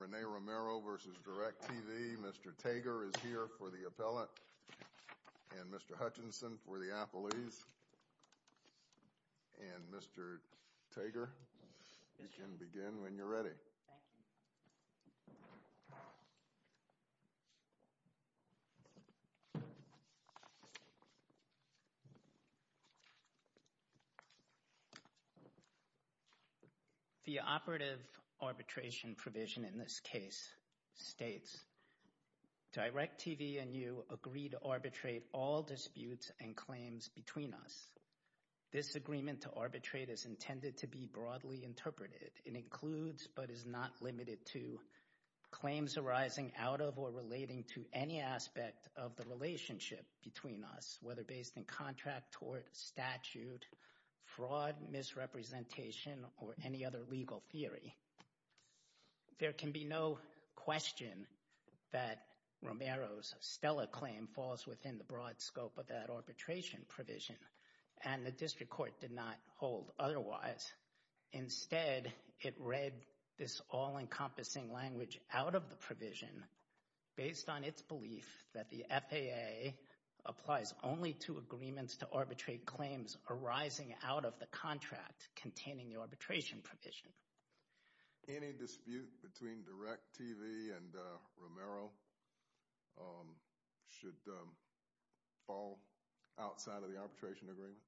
Rene Romero v. DIRECTV, Mr. Tager is here for the appellate and Mr. Hutchinson for the appellees and Mr. Tager, you can begin when you're ready. Thank you. The operative arbitration provision in this case states, DIRECTV and you agree to arbitrate all disputes and claims between us. This agreement to arbitrate is intended to be broadly interpreted. It includes, but is not limited to, claims arising out of or relating to any aspect of the relationship between us, whether based in contract, tort, statute, fraud, misrepresentation, or any other legal theory. There can be no question that Romero's STELA claim falls within the broad scope of that arbitration provision and the district court did not hold otherwise. Instead, it read this all-encompassing language out of the provision based on its belief that the FAA applies only to agreements to arbitrate claims arising out of the contract containing the arbitration provision. Any dispute between DIRECTV and Romero should fall outside of the arbitration agreement?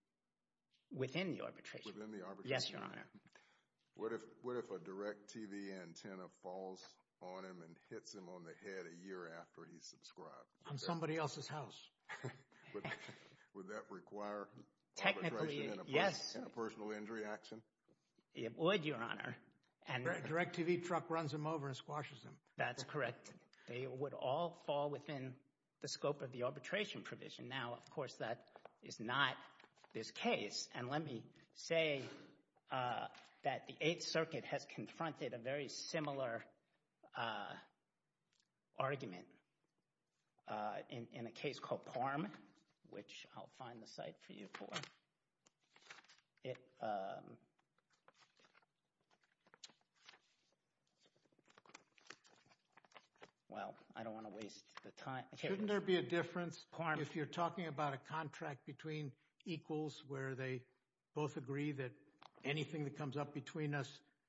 Within the arbitration. Within the arbitration agreement. Yes, Your Honor. What if a DIRECTV antenna falls on him and hits him on the head a year after he's subscribed? On somebody else's house. Would that require arbitration and a personal injury action? It would, Your Honor. A DIRECTV truck runs him over and squashes him. That's correct. They would all fall within the scope of the arbitration provision. Now, of course, that is not this case and let me say that the Eighth Circuit has confronted a very similar argument in a case called PARM, which I'll find the Well, I don't want to waste the time. Shouldn't there be a difference if you're talking about a contract between equals where they both agree that anything that comes up between us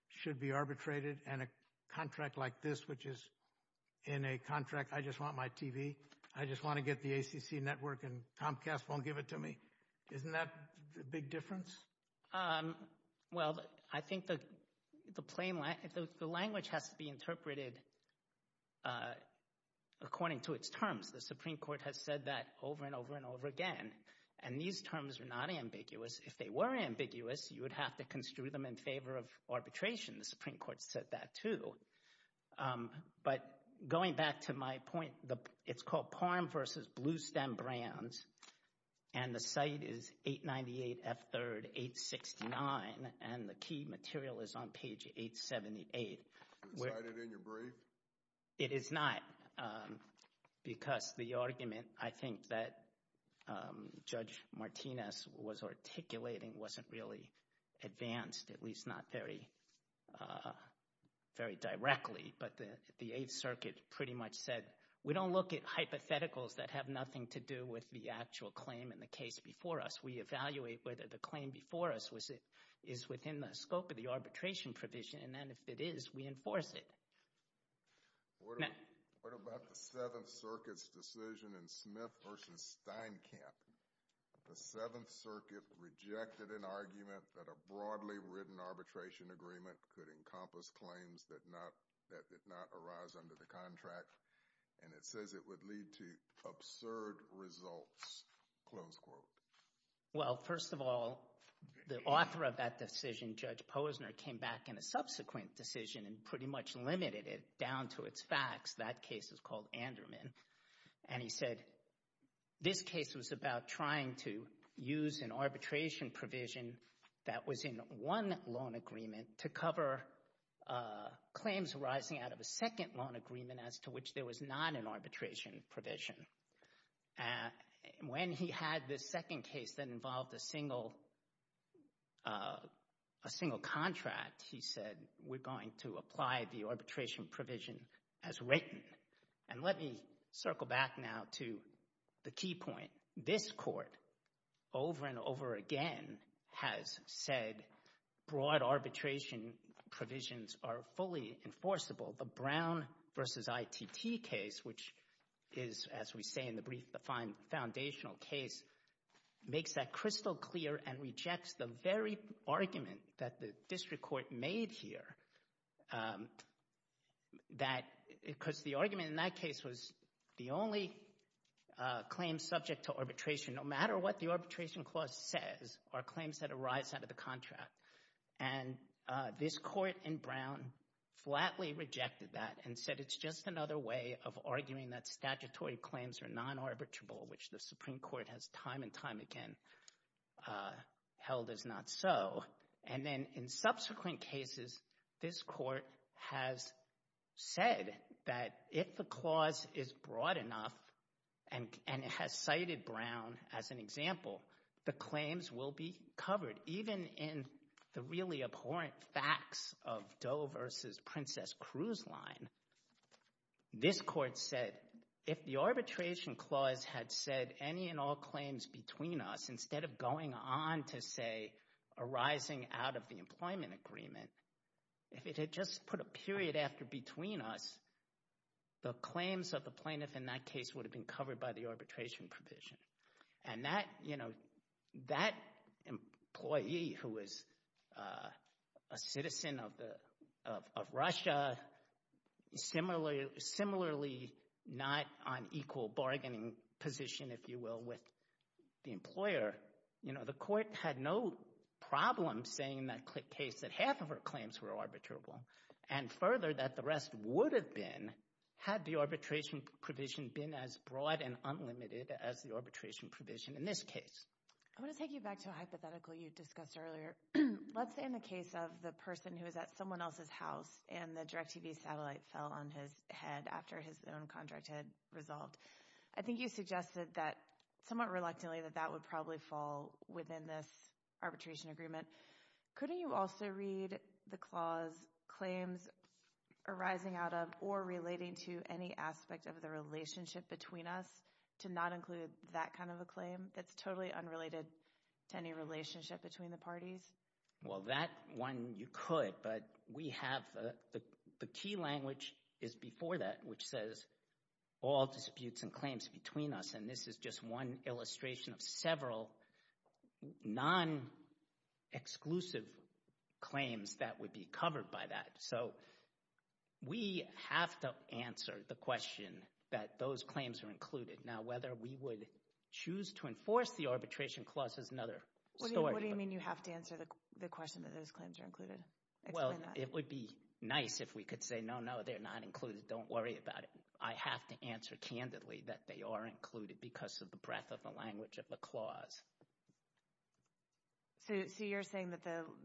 should be arbitrated and a contract like this, which is in a contract, I just want my TV, I just want to get the ACC network and Comcast won't give it to me. Isn't that a big difference? Well, I think the language has to be interpreted according to its terms. The Supreme Court has said that over and over and over again. And these terms are not ambiguous. If they were ambiguous, you would have to construe them in favor of arbitration. The Supreme Court said that too. But going back to my point, it's called PARM versus Bluestem Brands and the site is 898 F3rd 869 and the key material is on page 878. Is it cited in your brief? It is not, because the argument I think that Judge Martinez was articulating wasn't really advanced, at least not very directly. But the Eighth Circuit pretty much said we don't look at hypotheticals that have nothing to do with the actual claim in the case before us. We evaluate whether the claim before us is within the scope of the arbitration provision and then if it is, we enforce it. What about the Seventh Circuit's decision in Smith versus Steinkamp? The Seventh Circuit rejected an argument that a broadly written arbitration agreement could encompass claims that did not arise under the contract, and it says it would lead to absurd results. Well, first of all, the author of that decision, Judge Posner, came back in a subsequent decision and pretty much limited it down to its facts. That case is called Anderman, and he said this case was about trying to use an arbitration provision that was in one loan agreement to cover claims arising out of a second loan agreement as to which there was not an arbitration provision. When he had this second case that involved a single contract, he said we're going to apply the arbitration provision as written. And let me circle back now to the key point. This court over and over again has said broad arbitration provisions are fully enforceable. The Brown versus ITT case, which is, as we say in the brief, the foundational case, makes that crystal clear and rejects the very argument that the district court made here because the argument in that case was the only claim subject to arbitration. No matter what the arbitration clause says are claims that arise out of the contract, and this court in Brown flatly rejected that and said it's just another way of arguing that statutory claims are non-arbitrable, which the Supreme Court has time and time again held as not so. And then in subsequent cases, this court has said that if the clause is broad enough and it has cited Brown as an example, the claims will be covered. But even in the really abhorrent facts of Doe versus Princess Cruz line, this court said if the arbitration clause had said any and all claims between us instead of going on to, say, arising out of the employment agreement, if it had just put a period after between us, the claims of the plaintiff in that case would have been covered by the arbitration provision. And that employee who was a citizen of Russia, similarly not on equal bargaining position, if you will, with the employer, the court had no problem saying in that case that half of her claims were arbitrable and further that the rest would have been had the arbitration provision been as broad and unlimited as the arbitration provision. In this case, I want to take you back to a hypothetical you discussed earlier. Let's say in the case of the person who is at someone else's house and the DirecTV satellite fell on his head after his own contract had resolved, I think you suggested that somewhat reluctantly that that would probably fall within this arbitration agreement. Couldn't you also read the clause claims arising out of or relating to any aspect of the relationship between us to not include that kind of a claim that's totally unrelated to any relationship between the parties? Well, that one you could, but we have the key language is before that, which says all disputes and claims between us. And this is just one illustration of several non-exclusive claims that would be covered by that. So we have to answer the question that those claims are included. Now, whether we would choose to enforce the arbitration clause is another story. What do you mean you have to answer the question that those claims are included? Well, it would be nice if we could say no, no, they're not included. Don't worry about it. I have to answer candidly that they are included because of the breadth of the language of the clause. So you're saying that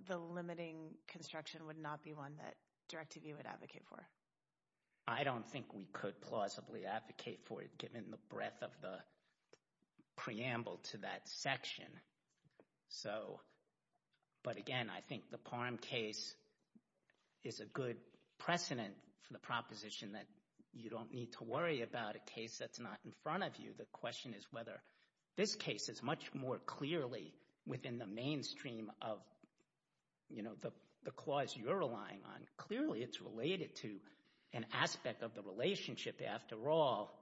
the limiting construction would not be one that DirecTV would advocate for? I don't think we could plausibly advocate for it given the breadth of the preamble to that section. But again, I think the Parham case is a good precedent for the proposition that you don't need to worry about a case that's not in front of you. The question is whether this case is much more clearly within the mainstream of the clause you're relying on. Clearly, it's related to an aspect of the relationship. After all,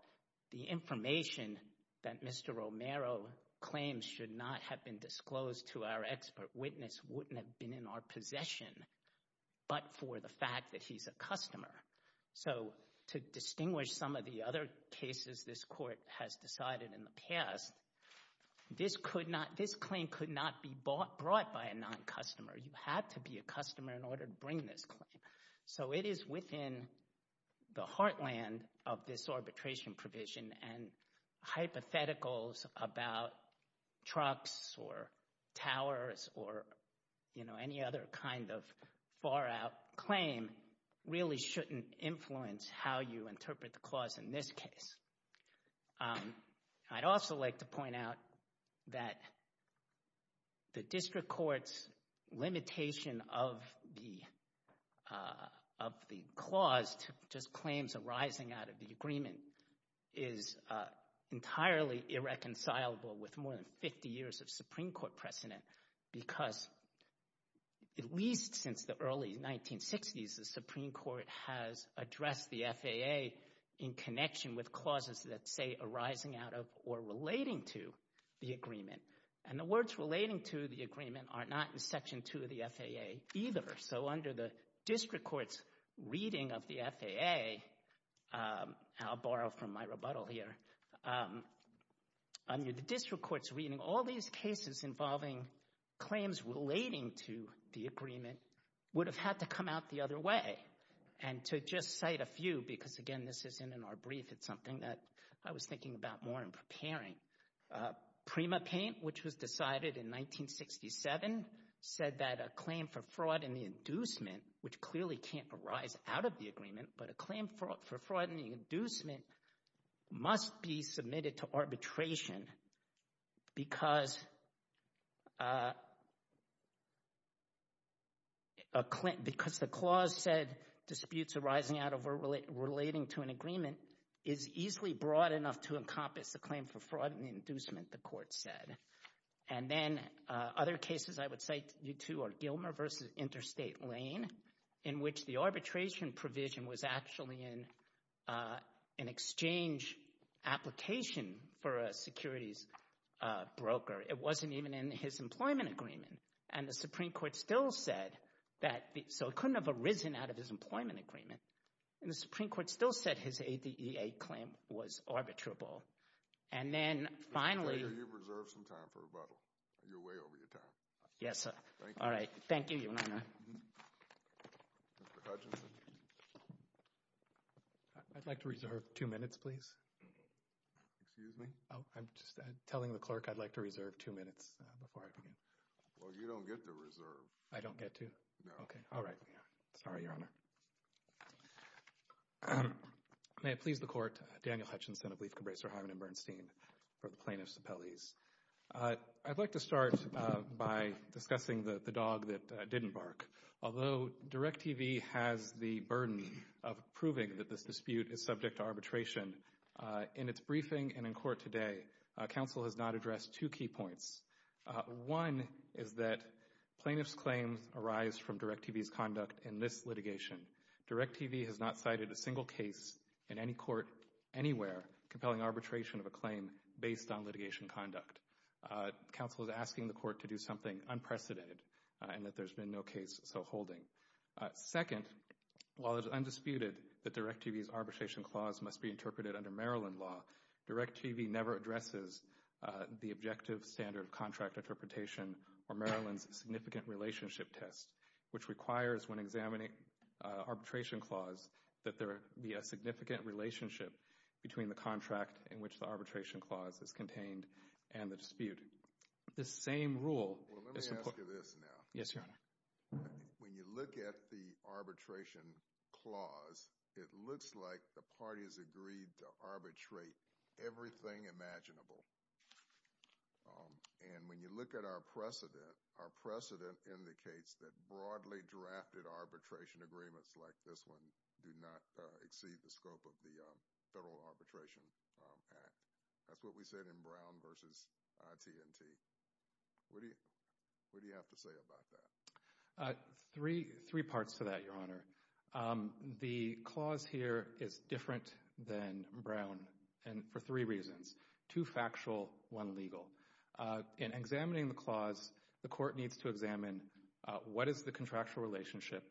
the information that Mr. Romero claims should not have been disclosed to our expert witness wouldn't have been in our possession but for the fact that he's a customer. So to distinguish some of the other cases this court has decided in the past, this claim could not be brought by a non-customer. You have to be a customer in order to bring this claim. So it is within the heartland of this arbitration provision, and hypotheticals about trucks or towers or any other kind of far-out claim really shouldn't influence how you interpret the clause in this case. I'd also like to point out that the district court's limitation of the clause to just claims arising out of the agreement is entirely irreconcilable with more than 50 years of Supreme Court precedent because at least since the early 1960s, the Supreme Court has addressed the FAA in connection with clauses that say arising out of or relating to the agreement. And the words relating to the agreement are not in Section 2 of the FAA either. So under the district court's reading of the FAA—I'll borrow from my rebuttal here. Under the district court's reading, all these cases involving claims relating to the agreement would have had to come out the other way. And to just cite a few because, again, this isn't in our brief. It's something that I was thinking about more in preparing. Prima Paint, which was decided in 1967, said that a claim for fraud in the inducement, which clearly can't arise out of the agreement, but a claim for fraud in the inducement must be submitted to arbitration because the clause said disputes arising out of or relating to an agreement is easily broad enough to encompass the claim for fraud in the inducement. And then other cases I would cite you to are Gilmer v. Interstate Lane in which the arbitration provision was actually an exchange application for a securities broker. It wasn't even in his employment agreement. And the Supreme Court still said that—so it couldn't have arisen out of his employment agreement. And the Supreme Court still said his ADEA claim was arbitrable. And then finally— Mr. Clay, you've reserved some time for rebuttal. You're way over your time. Yes, sir. Thank you. All right. Thank you, Your Honor. Mr. Hutchinson. I'd like to reserve two minutes, please. Excuse me? Oh, I'm just telling the clerk I'd like to reserve two minutes before I begin. Well, you don't get to reserve. I don't get to? No. Okay. All right. Sorry, Your Honor. May it please the Court, Daniel Hutchinson of Leif, Cabresa, Hyman & Bernstein for the Plaintiffs' Appellees. I'd like to start by discussing the dog that didn't bark. Although DIRECTV has the burden of proving that this dispute is subject to arbitration, in its briefing and in court today, counsel has not addressed two key points. One is that plaintiff's claims arise from DIRECTV's conduct in this litigation. DIRECTV has not cited a single case in any court anywhere compelling arbitration of a claim based on litigation conduct. Counsel is asking the court to do something unprecedented and that there's been no case so holding. Second, while it's undisputed that DIRECTV's arbitration clause must be interpreted under Maryland law, DIRECTV never addresses the objective standard of contract interpretation or Maryland's significant relationship test, which requires when examining arbitration clause that there be a significant relationship between the contract in which the arbitration clause is contained and the dispute. The same rule is— Well, let me ask you this now. Yes, Your Honor. When you look at the arbitration clause, it looks like the parties agreed to arbitrate everything imaginable. And when you look at our precedent, our precedent indicates that broadly drafted arbitration agreements like this one do not exceed the scope of the Federal Arbitration Act. That's what we said in Brown v. T&T. What do you have to say about that? Three parts to that, Your Honor. The clause here is different than Brown for three reasons, two factual, one legal. In examining the clause, the court needs to examine what is the contractual relationship,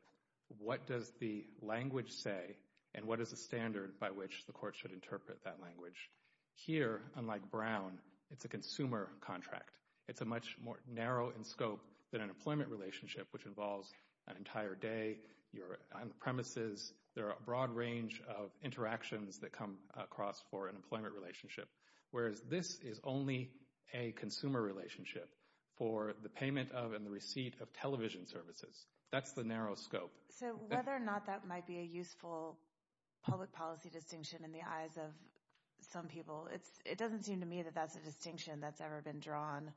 what does the language say, and what is the standard by which the court should interpret that language. Here, unlike Brown, it's a consumer contract. It's much more narrow in scope than an employment relationship, which involves an entire day. You're on the premises. There are a broad range of interactions that come across for an employment relationship, whereas this is only a consumer relationship for the payment of and the receipt of television services. That's the narrow scope. So whether or not that might be a useful public policy distinction in the eyes of some people, it doesn't seem to me that that's a distinction that's ever been drawn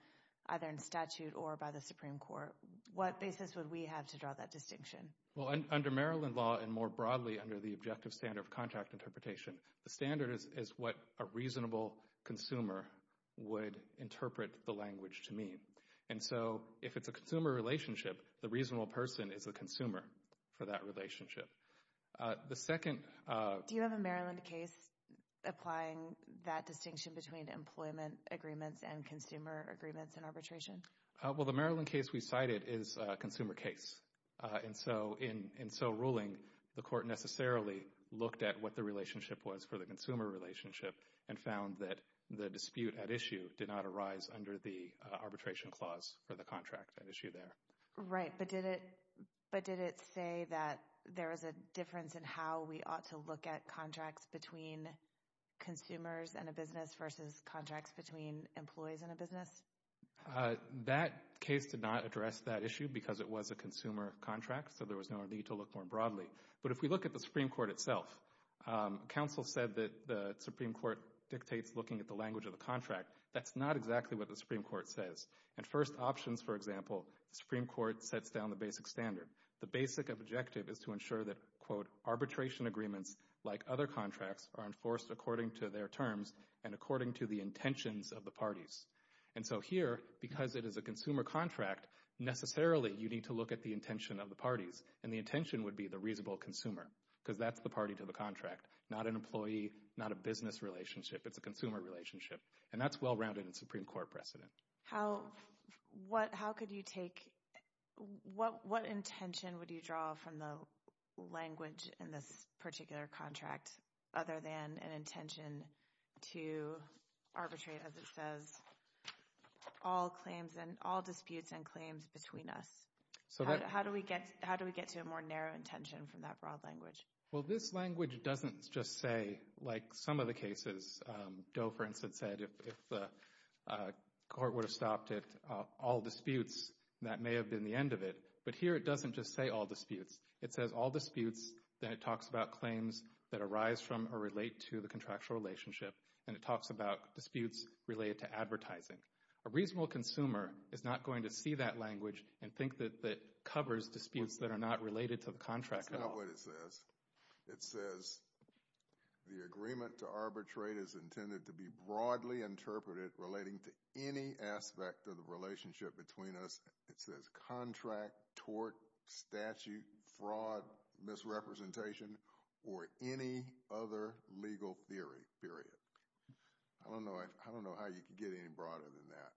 either in statute or by the Supreme Court. What basis would we have to draw that distinction? Well, under Maryland law and more broadly under the objective standard of contract interpretation, the standard is what a reasonable consumer would interpret the language to mean. And so if it's a consumer relationship, the reasonable person is the consumer for that relationship. Do you have a Maryland case applying that distinction between employment agreements and consumer agreements in arbitration? Well, the Maryland case we cited is a consumer case. In so ruling, the court necessarily looked at what the relationship was for the consumer relationship and found that the dispute at issue did not arise under the arbitration clause for the contract at issue there. Right, but did it say that there is a difference in how we ought to look at contracts between consumers and a business versus contracts between employees and a business? That case did not address that issue because it was a consumer contract, so there was no need to look more broadly. But if we look at the Supreme Court itself, counsel said that the Supreme Court dictates looking at the language of the contract. That's not exactly what the Supreme Court says. At first options, for example, the Supreme Court sets down the basic standard. The basic objective is to ensure that, quote, arbitration agreements like other contracts are enforced according to their terms and according to the intentions of the parties. And so here, because it is a consumer contract, necessarily you need to look at the intention of the parties, and the intention would be the reasonable consumer because that's the party to the contract, not an employee, not a business relationship. It's a consumer relationship, and that's well-rounded in Supreme Court precedent. How could you take—what intention would you draw from the language in this particular contract other than an intention to arbitrate, as it says, all disputes and claims between us? How do we get to a more narrow intention from that broad language? Well, this language doesn't just say, like some of the cases, Doe, for instance, said if the court would have stopped at all disputes, that may have been the end of it. But here it doesn't just say all disputes. It says all disputes, then it talks about claims that arise from or relate to the contractual relationship, and it talks about disputes related to advertising. A reasonable consumer is not going to see that language and think that it covers disputes that are not related to the contract at all. That's not what it says. It says the agreement to arbitrate is intended to be broadly interpreted relating to any aspect of the relationship between us. It says contract, tort, statute, fraud, misrepresentation, or any other legal theory, period. I don't know how you could get any broader than that.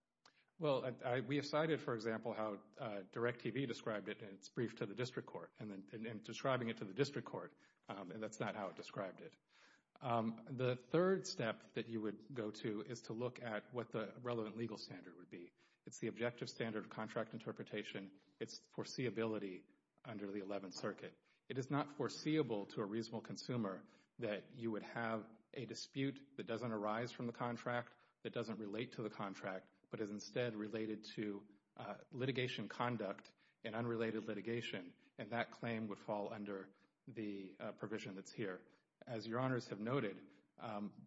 Well, we have cited, for example, how DIRECTV described it in its brief to the district court, and describing it to the district court, and that's not how it described it. The third step that you would go to is to look at what the relevant legal standard would be. It's the objective standard of contract interpretation. It's foreseeability under the Eleventh Circuit. It is not foreseeable to a reasonable consumer that you would have a dispute, that doesn't arise from the contract, that doesn't relate to the contract, but is instead related to litigation conduct and unrelated litigation, and that claim would fall under the provision that's here. As your honors have noted,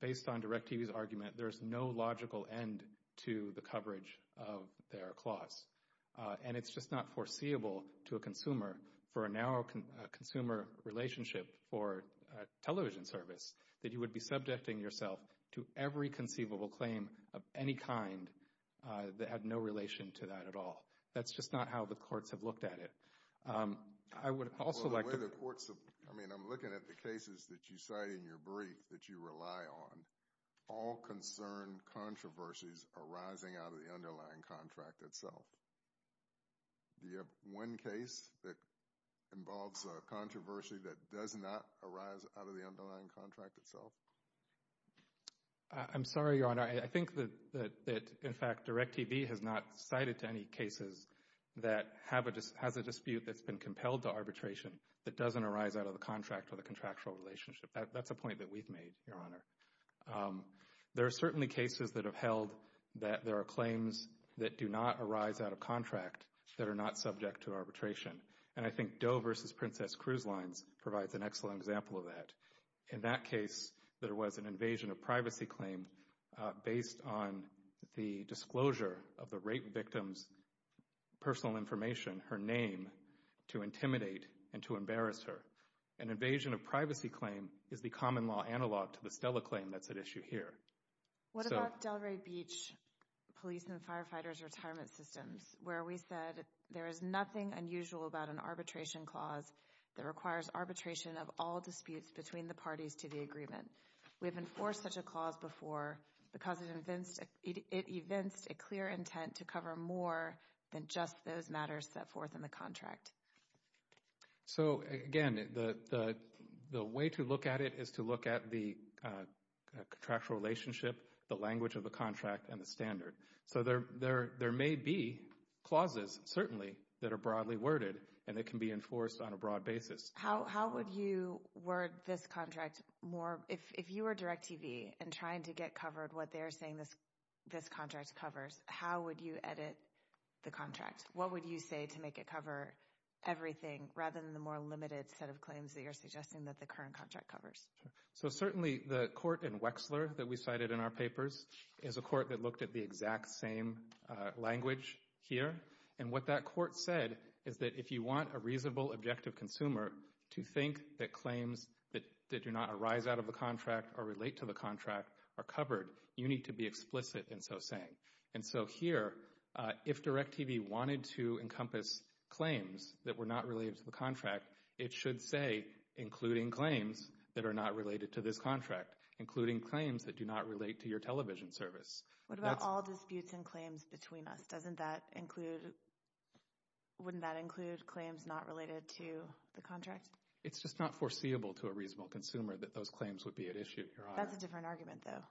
based on DIRECTV's argument, there is no logical end to the coverage of their clause, and it's just not foreseeable to a consumer for a narrow consumer relationship for a television service that you would be subjecting yourself to every conceivable claim of any kind that had no relation to that at all. That's just not how the courts have looked at it. I would also like to— Well, the way the courts have—I mean, I'm looking at the cases that you cite in your brief that you rely on, all concern controversies arising out of the underlying contract itself. Do you have one case that involves a controversy that does not arise out of the underlying contract itself? I'm sorry, your honor. I think that, in fact, DIRECTV has not cited any cases that have a dispute that's been compelled to arbitration that doesn't arise out of the contract or the contractual relationship. That's a point that we've made, your honor. There are certainly cases that have held that there are claims that do not arise out of contract that are not subject to arbitration, and I think Doe v. Princess Cruise Lines provides an excellent example of that. In that case, there was an invasion of privacy claim based on the disclosure of the rape victim's personal information, her name, to intimidate and to embarrass her. An invasion of privacy claim is the common law analog to the Stella claim that's at issue here. What about Delray Beach Police and Firefighters Retirement Systems where we said there is nothing unusual about an arbitration clause that requires arbitration of all disputes between the parties to the agreement? We have enforced such a clause before because it evinced a clear intent to cover more than just those matters set forth in the contract. So, again, the way to look at it is to look at the contractual relationship, the language of the contract, and the standard. So there may be clauses, certainly, that are broadly worded and that can be enforced on a broad basis. How would you word this contract more? If you were DirecTV and trying to get covered what they're saying this contract covers, how would you edit the contract? What would you say to make it cover everything rather than the more limited set of claims that you're suggesting that the current contract covers? Certainly, the court in Wexler that we cited in our papers is a court that looked at the exact same language here. What that court said is that if you want a reasonable, objective consumer to think that claims that do not arise out of the contract or relate to the contract are covered, you need to be explicit in so saying. And so here, if DirecTV wanted to encompass claims that were not related to the contract, it should say, including claims that are not related to this contract, including claims that do not relate to your television service. What about all disputes and claims between us? Wouldn't that include claims not related to the contract? It's just not foreseeable to a reasonable consumer that those claims would be at issue. That's a different argument, though.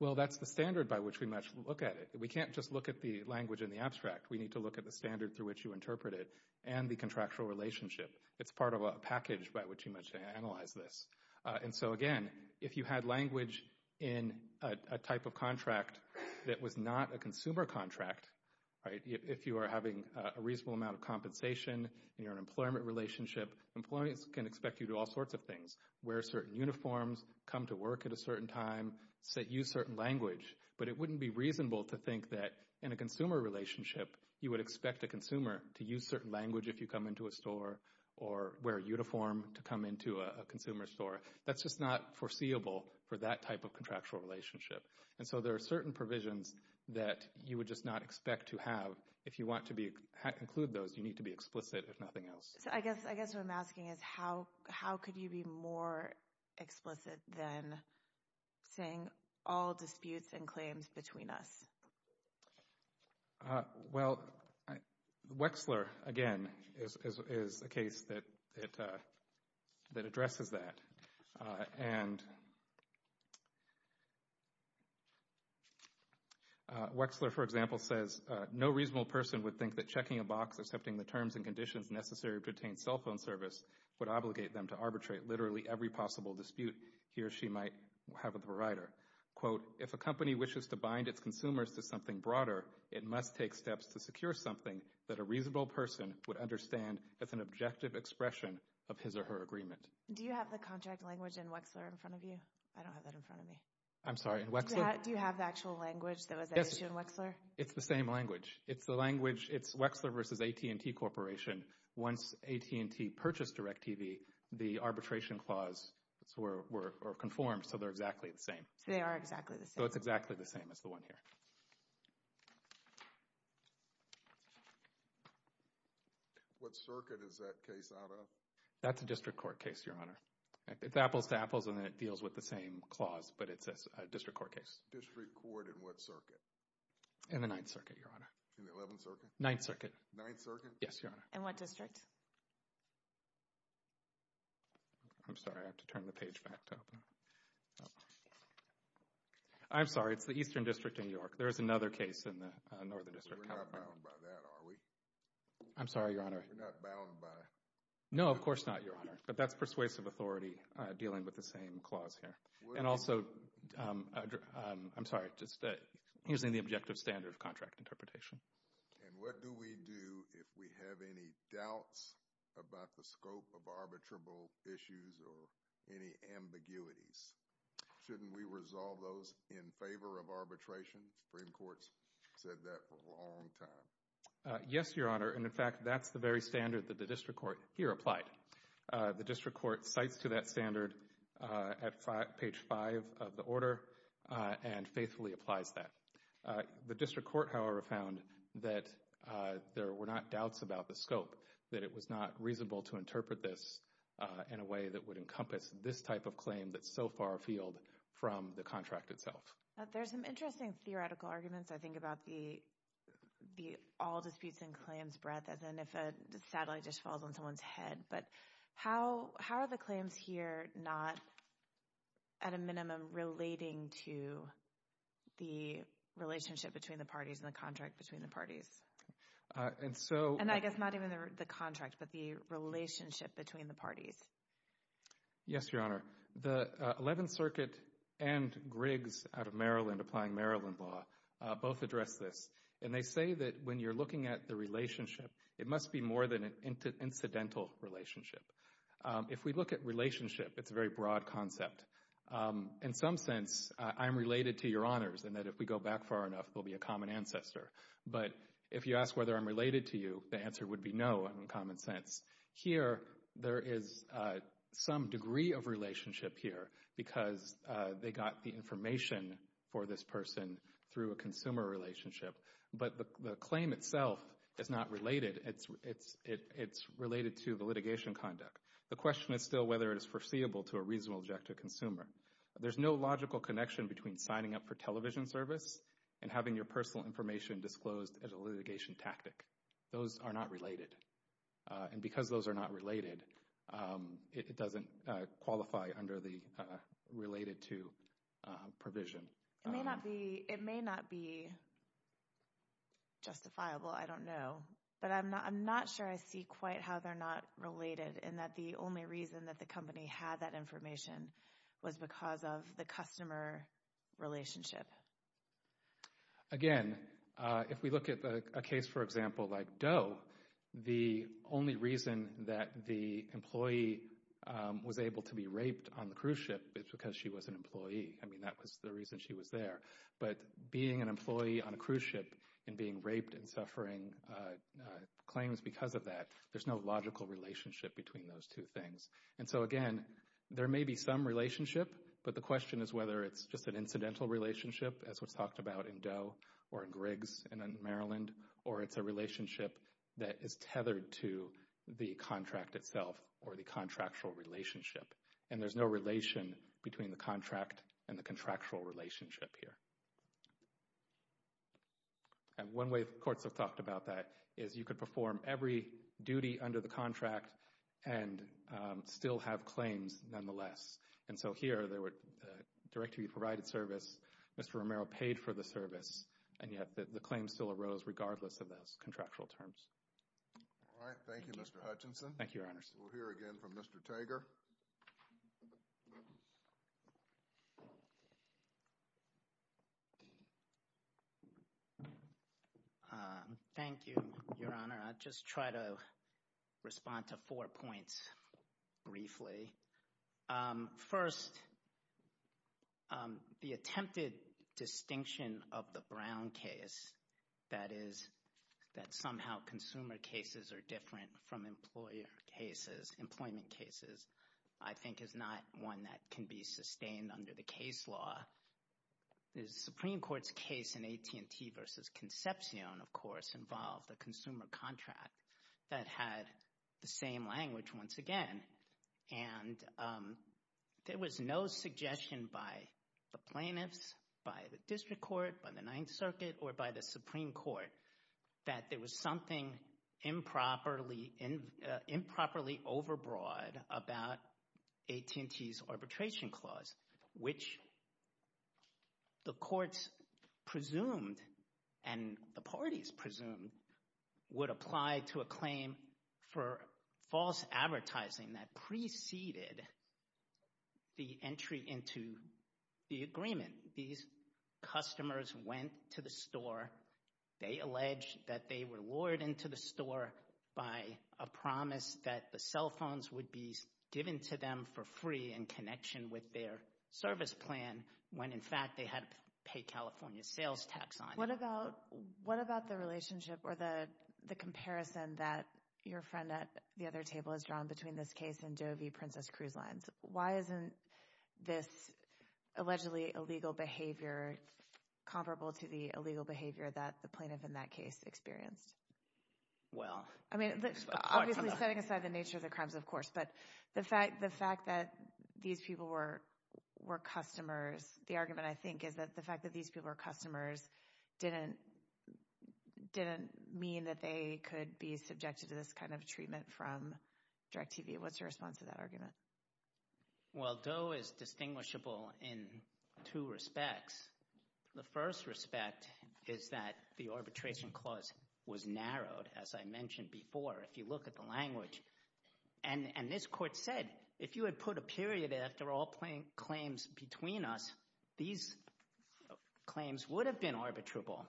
Well, that's the standard by which we must look at it. We can't just look at the language in the abstract. We need to look at the standard through which you interpret it and the contractual relationship. It's part of a package by which you must analyze this. And so, again, if you had language in a type of contract that was not a consumer contract, if you are having a reasonable amount of compensation and you're in an employment relationship, employees can expect you to do all sorts of things, wear certain uniforms, come to work at a certain time, use certain language. But it wouldn't be reasonable to think that in a consumer relationship, you would expect a consumer to use certain language if you come into a store or wear a uniform to come into a consumer store. That's just not foreseeable for that type of contractual relationship. And so there are certain provisions that you would just not expect to have. If you want to include those, you need to be explicit, if nothing else. I guess what I'm asking is how could you be more explicit than saying all disputes and claims between us? Well, Wexler, again, is a case that addresses that. And Wexler, for example, says, no reasonable person would think that checking a box, accepting the terms and conditions necessary to obtain cell phone service, would obligate them to arbitrate literally every possible dispute he or she might have with the provider. Quote, if a company wishes to bind its consumers to something broader, it must take steps to secure something that a reasonable person would understand as an objective expression of his or her agreement. Do you have the contract language in Wexler in front of you? I don't have that in front of me. I'm sorry, in Wexler? Do you have the actual language that was issued in Wexler? It's the same language. It's the language, it's Wexler versus AT&T Corporation. Once AT&T purchased DirecTV, the arbitration clause were conformed, so they're exactly the same. So they are exactly the same. So it's exactly the same as the one here. What circuit is that case out of? That's a district court case, Your Honor. It's apples to apples and it deals with the same clause, but it's a district court case. District court in what circuit? In the Ninth Circuit, Your Honor. In the Eleventh Circuit? Ninth Circuit. Ninth Circuit? Yes, Your Honor. In what district? I'm sorry, I have to turn the page back to open. I'm sorry, it's the Eastern District in New York. There is another case in the Northern District. We're not bound by that, are we? I'm sorry, Your Honor. We're not bound by it? No, of course not, Your Honor. But that's persuasive authority dealing with the same clause here. And also, I'm sorry, just using the objective standard of contract interpretation. And what do we do if we have any doubts about the scope of arbitrable issues or any ambiguities? Shouldn't we resolve those in favor of arbitration? Supreme Court's said that for a long time. Yes, Your Honor, and in fact, that's the very standard that the district court here applied. The district court cites to that standard at page five of the order and faithfully applies that. The district court, however, found that there were not doubts about the scope, that it was not reasonable to interpret this in a way that would encompass this type of claim that's so far afield from the contract itself. There's some interesting theoretical arguments, I think, about the all disputes and claims breath, as in if a satellite just falls on someone's head. But how are the claims here not, at a minimum, relating to the relationship between the parties and the contract between the parties? And I guess not even the contract, but the relationship between the parties. Yes, Your Honor. The Eleventh Circuit and Griggs out of Maryland, applying Maryland law, both address this. And they say that when you're looking at the relationship, it must be more than an incidental relationship. If we look at relationship, it's a very broad concept. In some sense, I'm related to Your Honors in that if we go back far enough, we'll be a common ancestor. But if you ask whether I'm related to you, the answer would be no in common sense. Here, there is some degree of relationship here because they got the information for this person through a consumer relationship. But the claim itself is not related. It's related to the litigation conduct. The question is still whether it is foreseeable to a reasonable objective consumer. There's no logical connection between signing up for television service and having your personal information disclosed as a litigation tactic. Those are not related. And because those are not related, it doesn't qualify under the related to provision. It may not be justifiable. I don't know. But I'm not sure I see quite how they're not related in that the only reason that the company had that information was because of the customer relationship. Again, if we look at a case, for example, like Doe, the only reason that the employee was able to be raped on the cruise ship is because she was an employee. I mean, that was the reason she was there. But being an employee on a cruise ship and being raped and suffering claims because of that, there's no logical relationship between those two things. And so, again, there may be some relationship, but the question is whether it's just an incidental relationship, as was talked about in Doe or in Griggs and in Maryland, or it's a relationship that is tethered to the contract itself or the contractual relationship. And there's no relation between the contract and the contractual relationship here. And one way courts have talked about that is you could perform every duty under the contract and still have claims nonetheless. And so here, there were directly provided service. Mr. Romero paid for the service. And yet the claim still arose regardless of those contractual terms. All right. Thank you, Mr. Hutchinson. Thank you, Your Honors. We'll hear again from Mr. Tager. Thank you, Your Honor. I'll just try to respond to four points briefly. First, the attempted distinction of the Brown case, that is that somehow consumer cases are different from employer cases, employment cases, I think is not one that can be sustained under the case law. The Supreme Court's case in AT&T versus Concepcion, of course, involved a consumer contract that had the same language once again. And there was no suggestion by the plaintiffs, by the district court, by the Ninth Circuit, or by the Supreme Court that there was something improperly overbroad about AT&T's arbitration clause, which the courts presumed and the parties presumed would apply to a claim for false advertising that preceded the entry into the agreement. And when these customers went to the store, they alleged that they were lured into the store by a promise that the cell phones would be given to them for free in connection with their service plan when in fact they had to pay California sales tax on them. What about the relationship or the comparison that your friend at the other table has drawn between this case and Doe v. Princess Cruise Lines? Why isn't this allegedly illegal behavior comparable to the illegal behavior that the plaintiff in that case experienced? I mean, obviously setting aside the nature of the crimes, of course, but the fact that these people were customers, the argument, I think, is that the fact that these people were customers didn't mean that they could be subjected to this kind of treatment from DIRECTV. What's your response to that argument? Well, Doe is distinguishable in two respects. The first respect is that the arbitration clause was narrowed, as I mentioned before, if you look at the language. And this court said if you had put a period after all claims between us, these claims would have been arbitrable.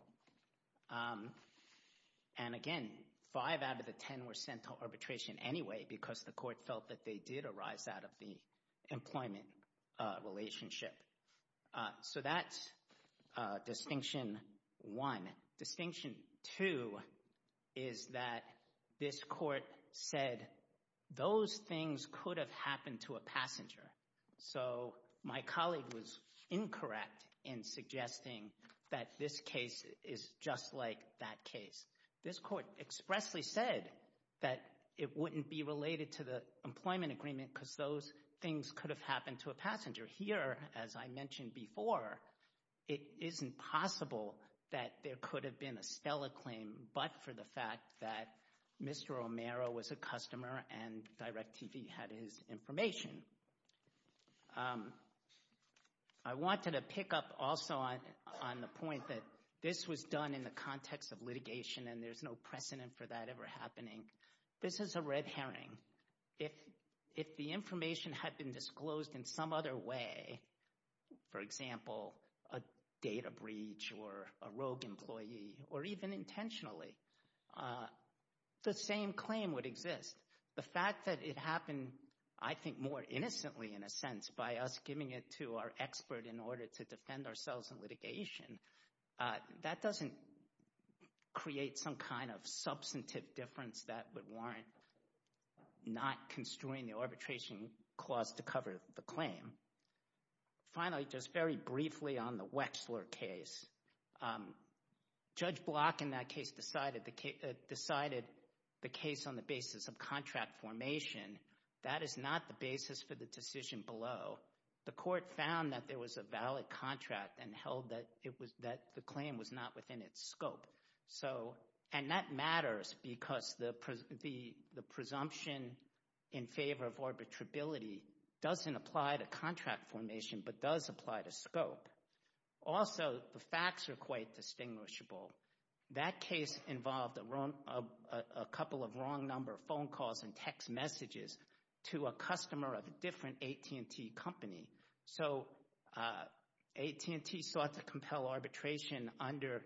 And again, five out of the ten were sent to arbitration anyway because the court felt that they did arise out of the employment relationship. So that's distinction one. Distinction two is that this court said those things could have happened to a passenger. So my colleague was incorrect in suggesting that this case is just like that case. This court expressly said that it wouldn't be related to the employment agreement because those things could have happened to a passenger. Here, as I mentioned before, it isn't possible that there could have been a Stella claim but for the fact that Mr. Romero was a customer and DIRECTV had his information. I wanted to pick up also on the point that this was done in the context of litigation and there's no precedent for that ever happening. This is a red herring. If the information had been disclosed in some other way, for example, a data breach or a rogue employee or even intentionally, the same claim would exist. The fact that it happened, I think, more innocently in a sense by us giving it to our expert in order to defend ourselves in litigation, that doesn't create some kind of substantive difference that would warrant not construing the arbitration clause to cover the claim. Finally, just very briefly on the Wexler case, Judge Block in that case decided the case on the basis of contract formation. That is not the basis for the decision below. The court found that there was a valid contract and held that the claim was not within its scope. That matters because the presumption in favor of arbitrability doesn't apply to contract formation but does apply to scope. Also, the facts are quite distinguishable. That case involved a couple of wrong number of phone calls and text messages to a customer of a different AT&T company. So AT&T sought to compel arbitration under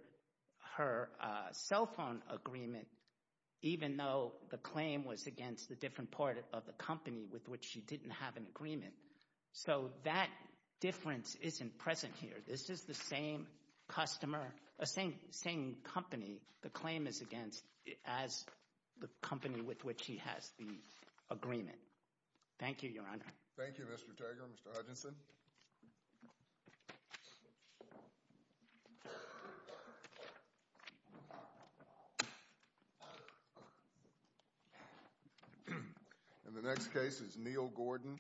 her cell phone agreement even though the claim was against the different part of the company with which she didn't have an agreement. So that difference isn't present here. This is the same customer – same company the claim is against as the company with which she has the agreement. Thank you, Your Honor. Thank you, Mr. Taggart and Mr. Hutchinson. And the next case is Neal Gordon.